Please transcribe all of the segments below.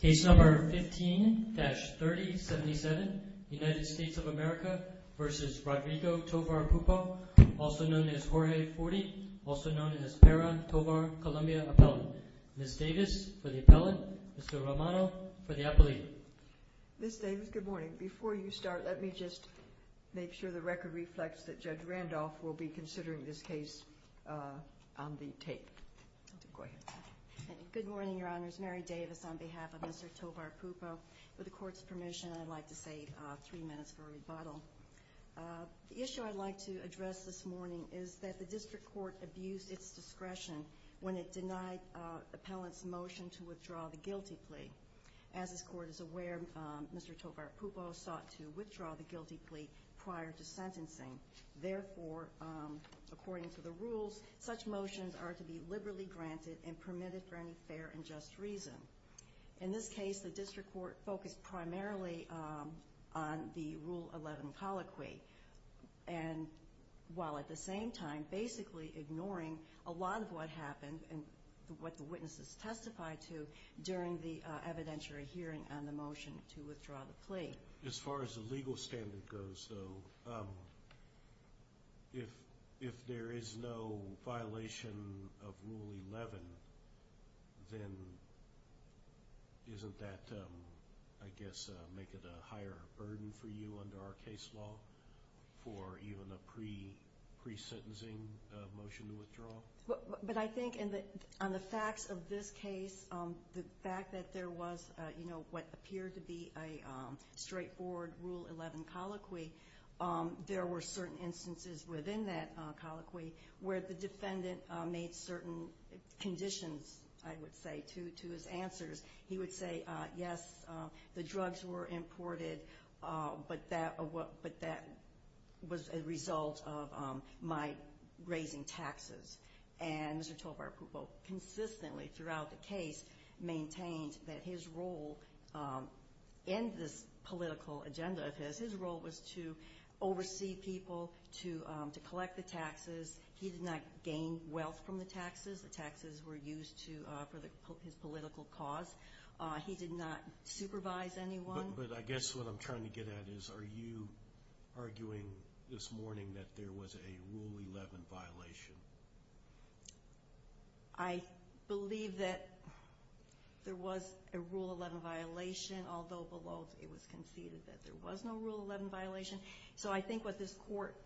Case number 15-3077, United States of America v. Rodrigo Tovar Pupo, also known as Jorge Forte, also known as Para Tovar Columbia Appellant. Ms. Davis for the appellant, Mr. Romano for the appellate. Ms. Davis, good morning. Before you start, let me just make sure the record reflects that Judge Randolph will be considering this case on the tape. Go ahead. Good morning, Your Honors. Mary Davis on behalf of Mr. Tovar Pupo. With the Court's permission, I'd like to save three minutes for rebuttal. The issue I'd like to address this morning is that the District Court abused its discretion when it denied the appellant's motion to withdraw the guilty plea. As this Court is aware, Mr. Tovar Pupo sought to withdraw the guilty plea prior to sentencing. Therefore, according to the rules, such motions are to be liberally granted and permitted for any fair and just reason. In this case, the District Court focused primarily on the Rule 11 colloquy, and while at the same time basically ignoring a lot of what happened and what the witnesses testified to during the evidentiary hearing on the motion to withdraw the plea. As far as the legal standard goes, though, if there is no violation of Rule 11, then isn't that, I guess, make it a higher burden for you under our case law for even a pre-sentencing motion to withdraw? But I think on the facts of this case, the fact that there was what appeared to be a straightforward Rule 11 colloquy, there were certain instances within that colloquy where the defendant made certain conditions, I would say, to his answers. He would say, yes, the drugs were imported, but that was a result of my raising taxes. And Mr. Tovar Pupo consistently throughout the case maintained that his role in this political agenda, because his role was to oversee people, to collect the taxes. He did not gain wealth from the taxes. The taxes were used for his political cause. He did not supervise anyone. But I guess what I'm trying to get at is, are you arguing this morning that there was a Rule 11 violation? I believe that there was a Rule 11 violation, although below it was conceded that there was no Rule 11 violation. So I think what this court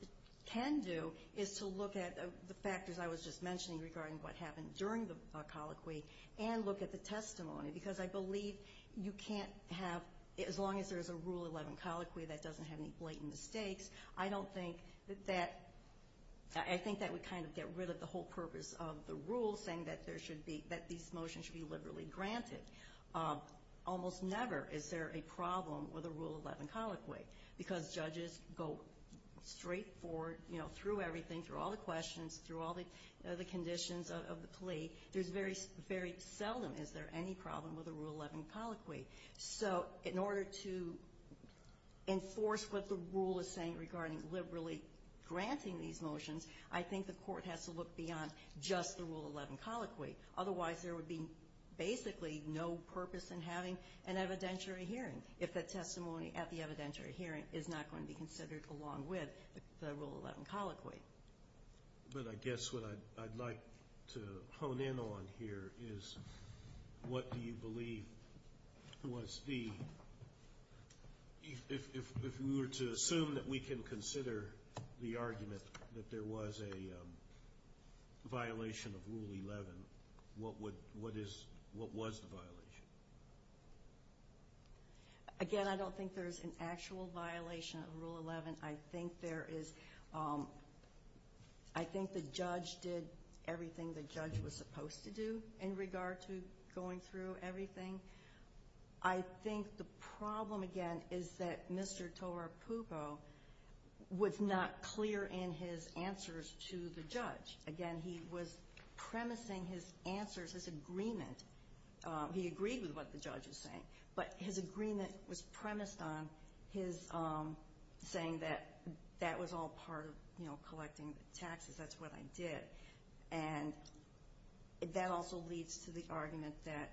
can do is to look at the factors I was just mentioning regarding what happened during the colloquy and look at the testimony, because I believe you can't have, as long as there's a Rule 11 colloquy that doesn't have any blatant mistakes, I don't think that that, I think that would kind of get rid of the whole purpose of the rule, saying that there should be, that these motions should be liberally granted. Almost never is there a problem with a Rule 11 colloquy, because judges go straightforward through everything, through all the questions, through all the conditions of the plea. There's very seldom is there any problem with a Rule 11 colloquy. So in order to enforce what the rule is saying regarding liberally granting these motions, I think the court has to look beyond just the Rule 11 colloquy. Otherwise, there would be basically no purpose in having an evidentiary hearing if the testimony at the evidentiary hearing is not going to be considered along with the Rule 11 colloquy. But I guess what I'd like to hone in on here is what do you believe was the, if we were to assume that we can consider the argument that there was a violation of Rule 11, what would, what is, what was the violation? Again, I don't think there's an actual violation of Rule 11. I think there is, I think the judge did everything the judge was supposed to do in regard to going through everything. I think the problem, again, is that Mr. Tora Pugo was not clear in his answers to the judge. Again, he was premising his answers, his agreement. He agreed with what the judge was saying, but his agreement was premised on his saying that that was all part of collecting the taxes, that's what I did. And that also leads to the argument that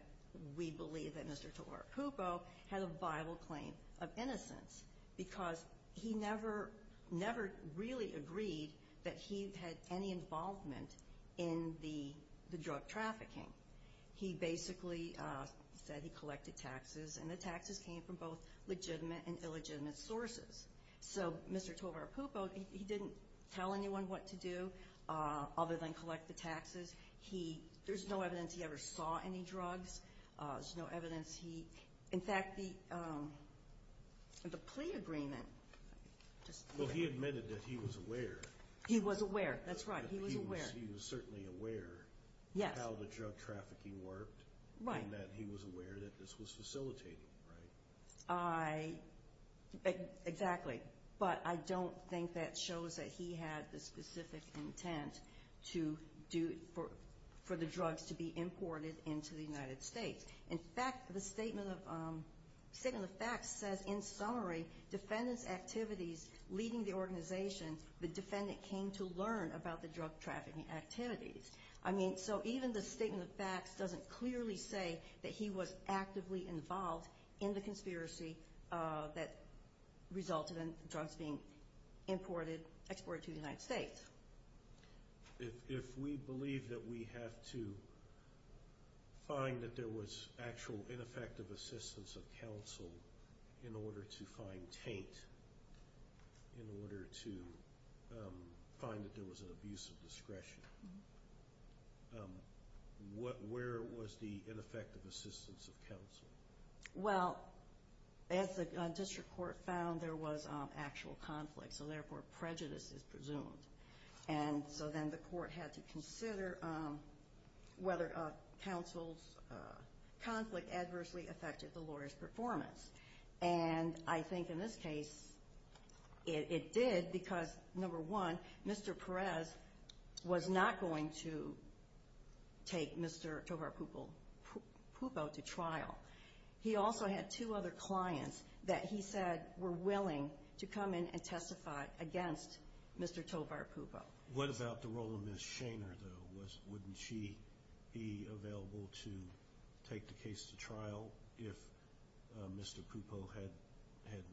we believe that Mr. Tora Pugo had a viable claim of innocence because he never, never really agreed that he had any involvement in the drug trafficking. He basically said he collected taxes, and the taxes came from both legitimate and illegitimate sources. So Mr. Tora Pugo, he didn't tell anyone what to do other than collect the taxes. He, there's no evidence he ever saw any drugs. There's no evidence he, in fact, the plea agreement. Well, he admitted that he was aware. He was aware, that's right, he was aware. Yes, he was certainly aware of how the drug trafficking worked. Right. And that he was aware that this was facilitated, right? I, exactly, but I don't think that shows that he had the specific intent to do, for the drugs to be imported into the United States. In fact, the Statement of Facts says, in summary, defendant's activities leading the organization, the defendant came to learn about the drug trafficking activities. I mean, so even the Statement of Facts doesn't clearly say that he was actively involved in the conspiracy that resulted in drugs being imported, exported to the United States. If we believe that we have to find that there was actual ineffective assistance of counsel in order to find taint, in order to find that there was an abuse of discretion, where was the ineffective assistance of counsel? Well, as the district court found, there was actual conflict, so therefore prejudice is presumed. And so then the court had to consider whether counsel's conflict adversely affected the case. And I think in this case, it did because, number one, Mr. Perez was not going to take Mr. Tovar-Pupo to trial. He also had two other clients that he said were willing to come in and testify against Mr. Tovar-Pupo. What about the role of Ms. Shaner, though? Wouldn't she be available to take the case to trial if Mr. Pupo had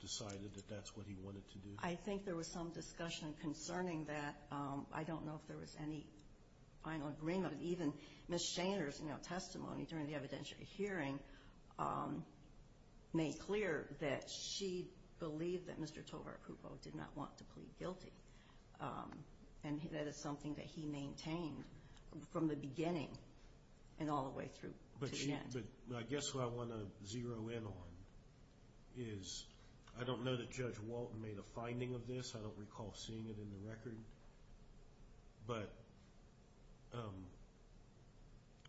decided that that's what he wanted to do? I think there was some discussion concerning that. I don't know if there was any final agreement. Even Ms. Shaner's testimony during the evidentiary hearing made clear that she believed that Mr. Tovar-Pupo did not want to plead guilty. And that is something that he maintained from the beginning and all the way through to the end. But I guess what I want to zero in on is I don't know that Judge Walton made a finding of this. I don't recall seeing it in the record. But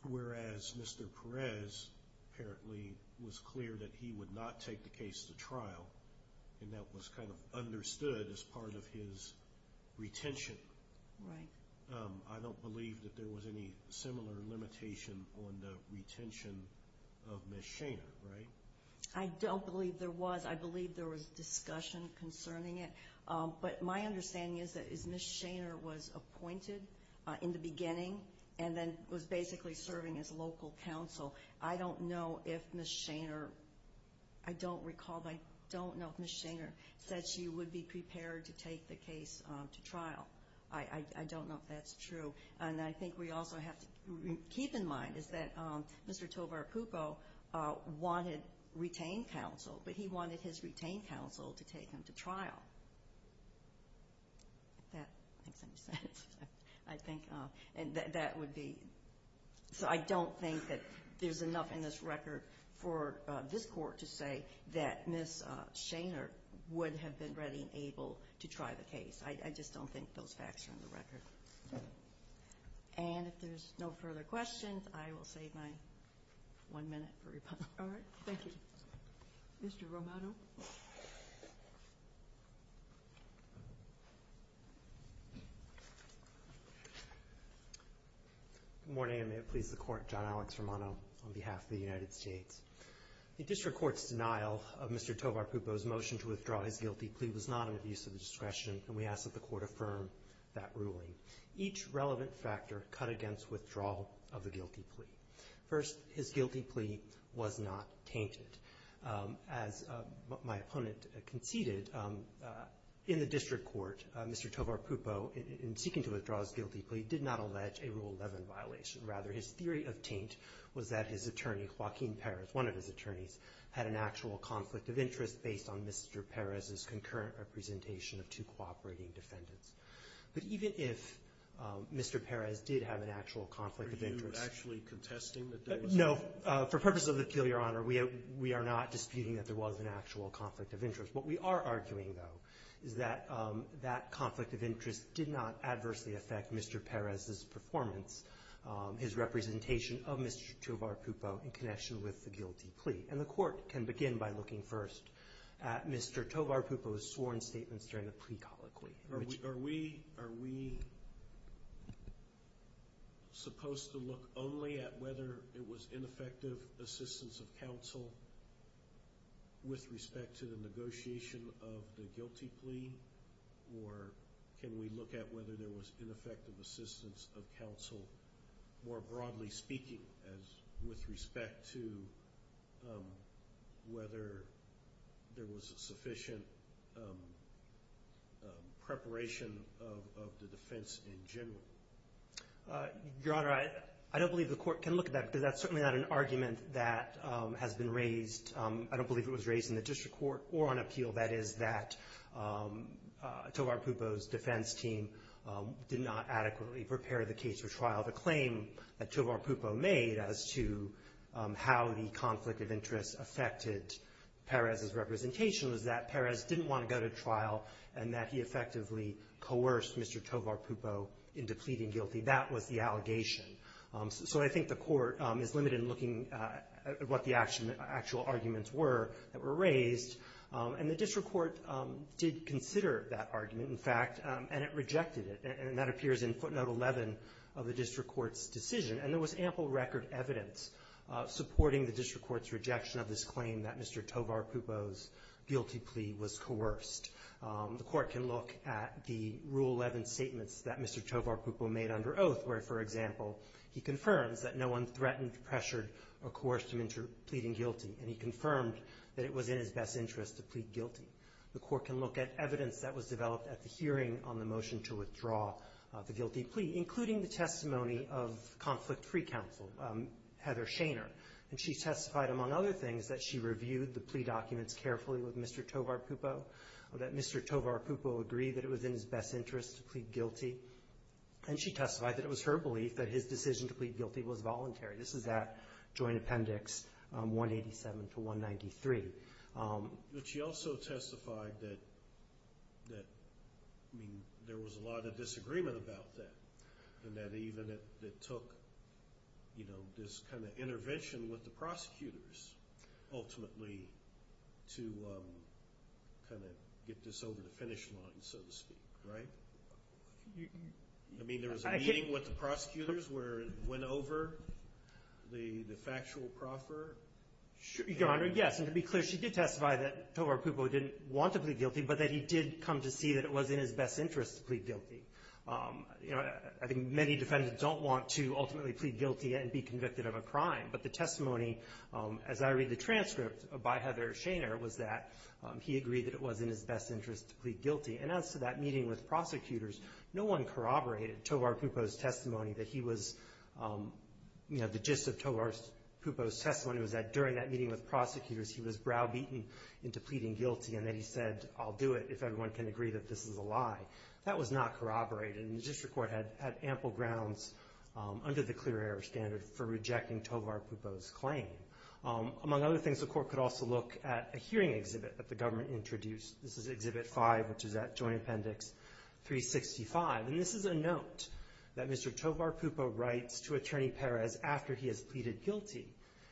whereas Mr. Perez apparently was clear that he would not take the case to trial, and that was kind of understood as part of his retention, I don't believe that there was any similar limitation on the retention of Ms. Shaner, right? I don't believe there was. I believe there was discussion concerning it. But my understanding is that as Ms. Shaner was appointed in the beginning and then was basically serving as local counsel, I don't know if Ms. Shaner, I don't recall, but I don't know if Ms. Shaner said she would be prepared to take the case to trial. I don't know if that's true. And I think we also have to keep in mind is that Mr. Tovar-Pupo wanted retained counsel, but he wanted his retained counsel to take him to trial. If that makes any sense. I think that would be. So I don't think that there's enough in this record for this court to say that Ms. Shaner would have been ready and able to try the case. I just don't think those facts are in the record. And if there's no further questions, I will save my one minute for rebuttal. All right. Thank you. Mr. Romano? Good morning, and may it please the Court. John Alex Romano on behalf of the United States. The District Court's denial of Mr. Tovar-Pupo's motion to withdraw his guilty plea was not an abuse of discretion, and we ask that the Court affirm that ruling. Each relevant factor cut against withdrawal of the guilty plea. First, his guilty plea was not tainted. As my opponent conceded, in the District Court, Mr. Tovar-Pupo, in seeking to withdraw his guilty plea, did not allege a Rule 11 violation. Rather, his theory of taint was that his attorney, Joaquin Perez, one of his attorneys, had an actual conflict of interest based on Mr. Perez's concurrent representation of two cooperating defendants. But even if Mr. Perez did have an actual conflict of interest — Are you actually contesting that there was a — No. For purposes of the appeal, Your Honor, we are not disputing that there was an actual conflict of interest. What we are arguing, though, is that that conflict of interest did not adversely affect Mr. Perez's performance, his representation of Mr. Tovar-Pupo in connection with the guilty plea. And the Court can begin by looking first at Mr. Tovar-Pupo's sworn statements during the plea colloquy. Are we supposed to look only at whether it was ineffective assistance of counsel with respect to the negotiation of the guilty plea? Or can we look at whether there was ineffective assistance of counsel, more broadly speaking, with respect to whether there was sufficient preparation of the defense in general? Your Honor, I don't believe the Court can look at that because that's certainly not an argument that has been raised. I don't believe it was raised in the district court or on appeal. That is, that Tovar-Pupo's defense team did not adequately prepare the case for trial. The claim that Tovar-Pupo made as to how the conflict of interest affected Perez's representation was that Perez didn't want to go to trial and that he effectively coerced Mr. Tovar-Pupo into pleading guilty. That was the allegation. So I think the Court is limited in looking at what the actual arguments were that were raised. And the district court did consider that argument, in fact, and it rejected it. And that appears in footnote 11 of the district court's decision. And there was ample record evidence supporting the district court's rejection of this claim that Mr. Tovar-Pupo's guilty plea was coerced. The Court can look at the Rule 11 statements that Mr. Tovar-Pupo made under oath, where, for example, he confirms that no one threatened, pressured, or coerced him into pleading guilty. And he confirmed that it was in his best interest to plead guilty. The Court can look at evidence that was developed at the hearing on the motion to withdraw the guilty plea, including the testimony of Conflict Free Counsel Heather Shainer. And she testified, among other things, that she reviewed the plea documents carefully with Mr. Tovar-Pupo, that Mr. Tovar-Pupo agreed that it was in his best interest to plead guilty. And she testified that it was her belief that his decision to plead guilty was voluntary. This is at Joint Appendix 187 to 193. But she also testified that there was a lot of disagreement about that, and that even it took this kind of intervention with the prosecutors, ultimately, to kind of get this over the finish line, so to speak, right? I mean, there was a meeting with the prosecutors where it went over the factual proffer? Your Honor, yes. And to be clear, she did testify that Tovar-Pupo didn't want to plead guilty, but that he did come to see that it was in his best interest to plead guilty. I think many defendants don't want to ultimately plead guilty and be convicted of a crime. But the testimony, as I read the transcript by Heather Shainer, was that he agreed that it was in his best interest to plead guilty. And as to that meeting with prosecutors, no one corroborated Tovar-Pupo's testimony that he was, you know, the gist of Tovar-Pupo's testimony was that during that meeting with prosecutors, he was browbeaten into pleading guilty and that he said, I'll do it if everyone can agree that this is a lie. That was not corroborated. And the district court had ample grounds under the clear error standard for rejecting Tovar-Pupo's claim. Among other things, the court could also look at a hearing exhibit that the government introduced. This is Exhibit 5, which is at Joint Appendix 365. And this is a note that Mr. Tovar-Pupo writes to Attorney Perez after he has pleaded guilty.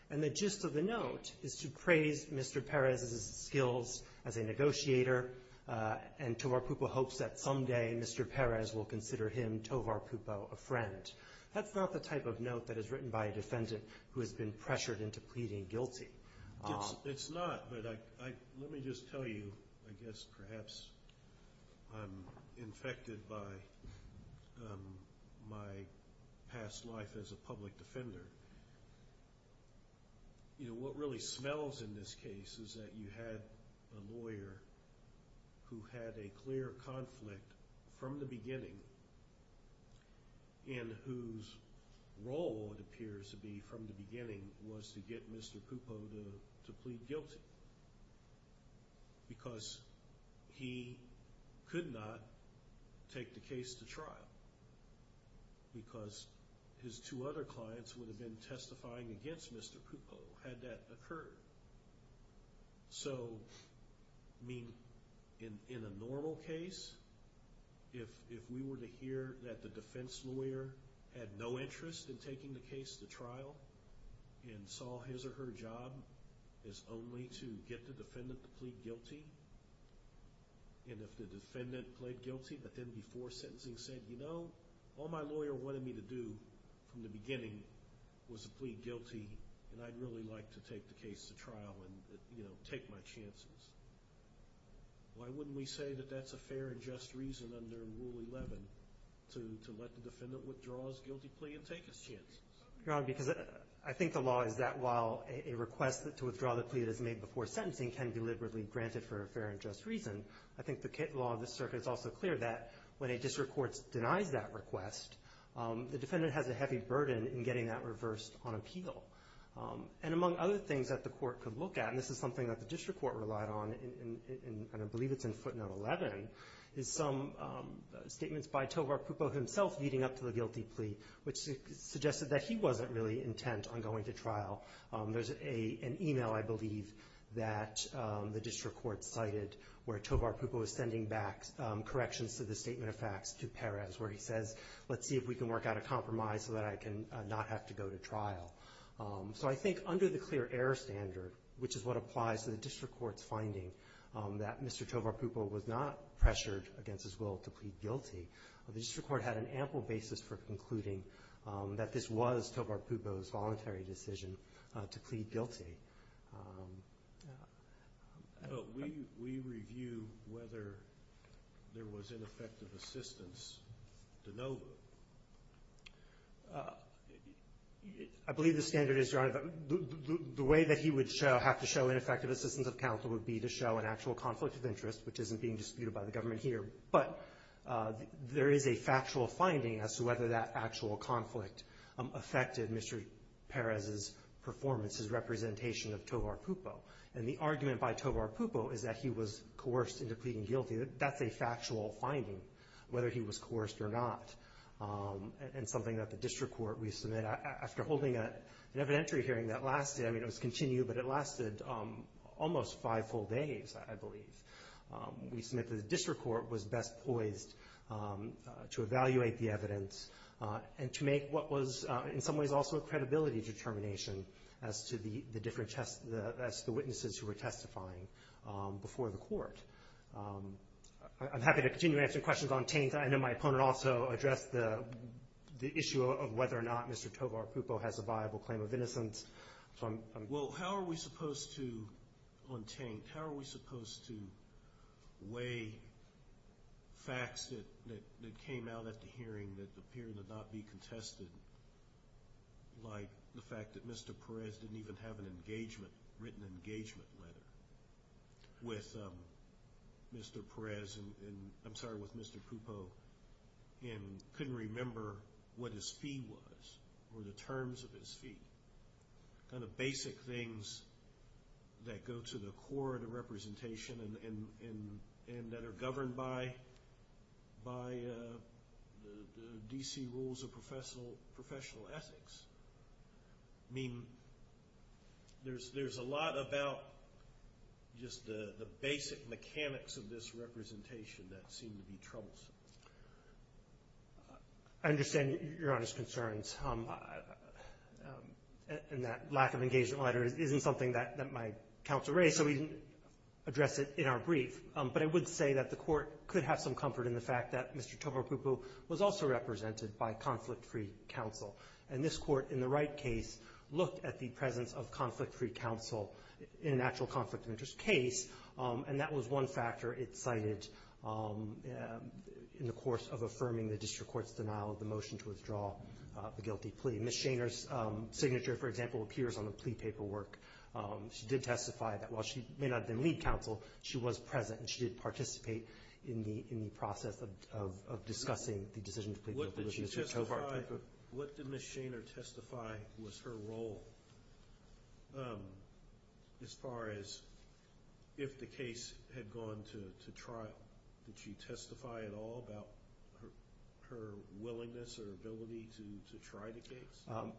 And the gist of the note is to praise Mr. Perez's skills as a negotiator, and Tovar-Pupo hopes that someday Mr. Perez will consider him, Tovar-Pupo, a friend. That's not the type of note that is written by a defendant who has been pressured into pleading guilty. It's not, but let me just tell you, I guess perhaps I'm infected by my past life as a public defender. You know, what really smells in this case is that you had a lawyer who had a clear conflict from the beginning and whose role it appears to be from the beginning was to get Mr. Pupo to plead guilty because he could not take the case to trial because his two other clients would have been testifying against Mr. Pupo had that occurred. So, I mean, in a normal case, if we were to hear that the defense lawyer had no interest in taking the case to trial and saw his or her job is only to get the defendant to plead guilty, and if the defendant pled guilty but then before sentencing said, you know, all my lawyer wanted me to do from the beginning was to plead guilty and I'd really like to take the case to trial and, you know, take my chances, why wouldn't we say that that's a fair and just reason under Rule 11 to let the defendant withdraw his guilty plea and take his chances? You're wrong because I think the law is that while a request to withdraw the plea that is made before sentencing can be deliberately granted for a fair and just reason, I think the law of the circuit is also clear that when a district court denies that request, the defendant has a heavy burden in getting that reversed on appeal. And among other things that the court could look at, and this is something that the district court relied on and I believe it's in footnote 11, is some statements by Tovar Pupo himself leading up to the guilty plea, which suggested that he wasn't really intent on going to trial. There's an e-mail I believe that the district court cited where Tovar Pupo is sending back corrections to the statement of facts to Perez where he says, let's see if we can work out a compromise so that I can not have to go to trial. So I think under the clear error standard, which is what applies to the district court's finding that Mr. Tovar Pupo was not pressured against his will to plead guilty, the district court had an ample basis for concluding that this was Tovar Pupo's voluntary decision to plead guilty. But we review whether there was ineffective assistance to know. I believe the standard is, Your Honor, the way that he would have to show ineffective assistance of counsel would be to show an actual conflict of interest, which isn't being disputed by the government here. But there is a factual finding as to whether that actual conflict affected Mr. Perez's performance, his representation of Tovar Pupo. And the argument by Tovar Pupo is that he was coerced into pleading guilty. That's a factual finding, whether he was coerced or not. And something that the district court, we submit after holding an evidentiary hearing that lasted, I mean, it was continued, but it lasted almost five full days, I believe. We submit that the district court was best poised to evaluate the evidence and to make what was in some ways also a credibility determination as to the witnesses who were testifying before the court. I'm happy to continue answering questions on taint. I know my opponent also addressed the issue of whether or not Mr. Tovar Pupo has a viable claim of innocence. Well, how are we supposed to, on taint, how are we supposed to weigh facts that came out at the hearing that appear to not be contested, like the fact that Mr. Perez didn't even have an engagement, written engagement letter, with Mr. Perez, I'm sorry, with Mr. Pupo, and couldn't remember what his fee was, or the terms of his fee, kind of basic things that go to the core of the representation and that are governed by the D.C. rules of professional ethics. I mean, there's a lot about just the basic mechanics of this representation that seem to be troublesome. I understand Your Honor's concerns, and that lack of engagement letter isn't something that my counsel raised, so we didn't address it in our brief, but I would say that the court could have some comfort in the fact that Mr. Tovar Pupo was also represented by conflict-free counsel, and this court, in the right case, looked at the presence of conflict-free counsel in an actual conflict of interest case, and that was one factor it cited in the course of affirming the district court's denial of the motion to withdraw the guilty plea. Ms. Shaner's signature, for example, appears on the plea paperwork. She did testify that while she may not have been lead counsel, she was present, and she did participate in the process of discussing the decision to plead guilty. What did Ms. Shaner testify was her role as far as if the case had gone to trial? Did she testify at all about her willingness or ability to try the case?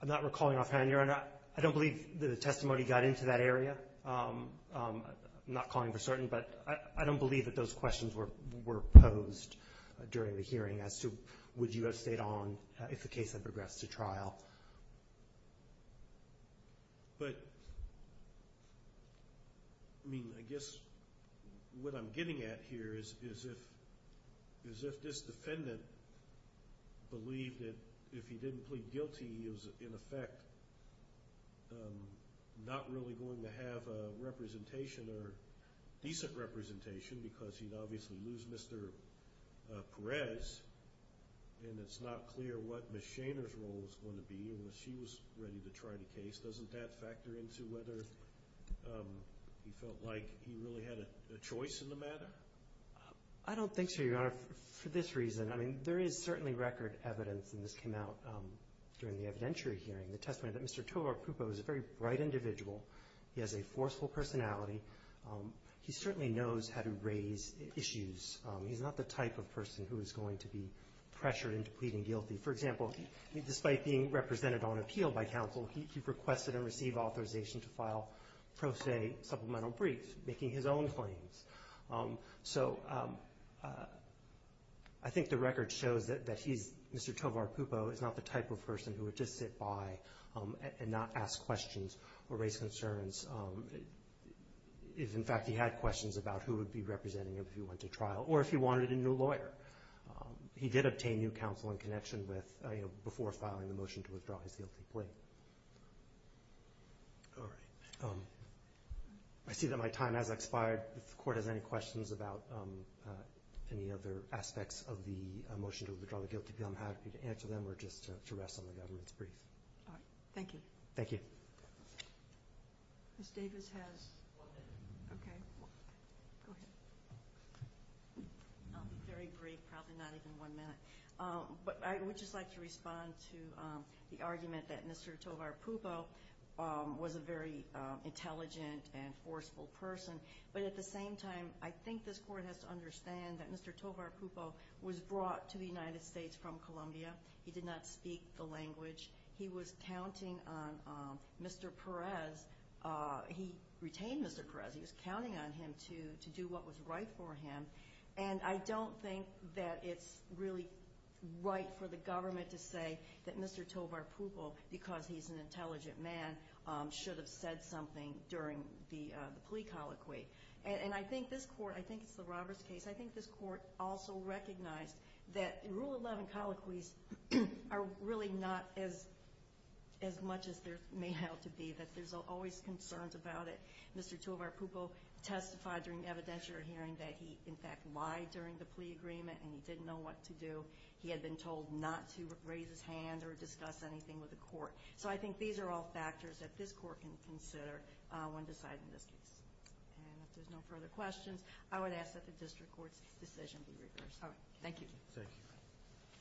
I'm not recalling offhand, Your Honor. I don't believe that a testimony got into that area. I'm not calling for certain, but I don't believe that those questions were posed during the hearing as to would you have stayed on But, I mean, I guess what I'm getting at here is if this defendant believed that if he didn't plead guilty, he was, in effect, not really going to have a representation or decent representation because he'd obviously lose Mr. Perez, and it's not clear what Ms. Shaner's role was going to be unless she was ready to try the case. Doesn't that factor into whether he felt like he really had a choice in the matter? I don't think so, Your Honor, for this reason. I mean, there is certainly record evidence, and this came out during the evidentiary hearing, the testimony that Mr. Tovar Prupo is a very bright individual. He has a forceful personality. He certainly knows how to raise issues. He's not the type of person who is going to be pressured into pleading guilty. For example, despite being represented on appeal by counsel, he requested and received authorization to file pro se supplemental briefs, making his own claims. So I think the record shows that he's, Mr. Tovar Prupo, is not the type of person who would just sit by and not ask questions or raise concerns. In fact, he had questions about who would be representing him if he went to trial or if he wanted a new lawyer. He did obtain new counsel in connection with before filing the motion to withdraw his guilty plea. All right. I see that my time has expired. If the Court has any questions about any other aspects of the motion to withdraw the guilty plea, I'm happy to answer them or just to rest on the government's brief. All right. Thank you. Thank you. Ms. Davis has one minute. Okay. Go ahead. I'll be very brief, probably not even one minute. But I would just like to respond to the argument that Mr. Tovar Prupo was a very intelligent and forceful person. But at the same time, I think this Court has to understand that Mr. Tovar Prupo was brought to the United States from Colombia. He did not speak the language. He was counting on Mr. Perez. He retained Mr. Perez. He was counting on him to do what was right for him. And I don't think that it's really right for the government to say that Mr. Tovar Prupo, because he's an intelligent man, should have said something during the plea colloquy. And I think this Court, I think it's the Roberts case, I think this Court also recognized that Rule 11 colloquies are really not as much as there may have to be, that there's always concerns about it. Mr. Tovar Prupo testified during the evidentiary hearing that he, in fact, lied during the plea agreement and he didn't know what to do. He had been told not to raise his hand or discuss anything with the Court. So I think these are all factors that this Court can consider when deciding this case. And if there's no further questions, I would ask that the District Court's decision be reversed. All right. Thank you. Thank you.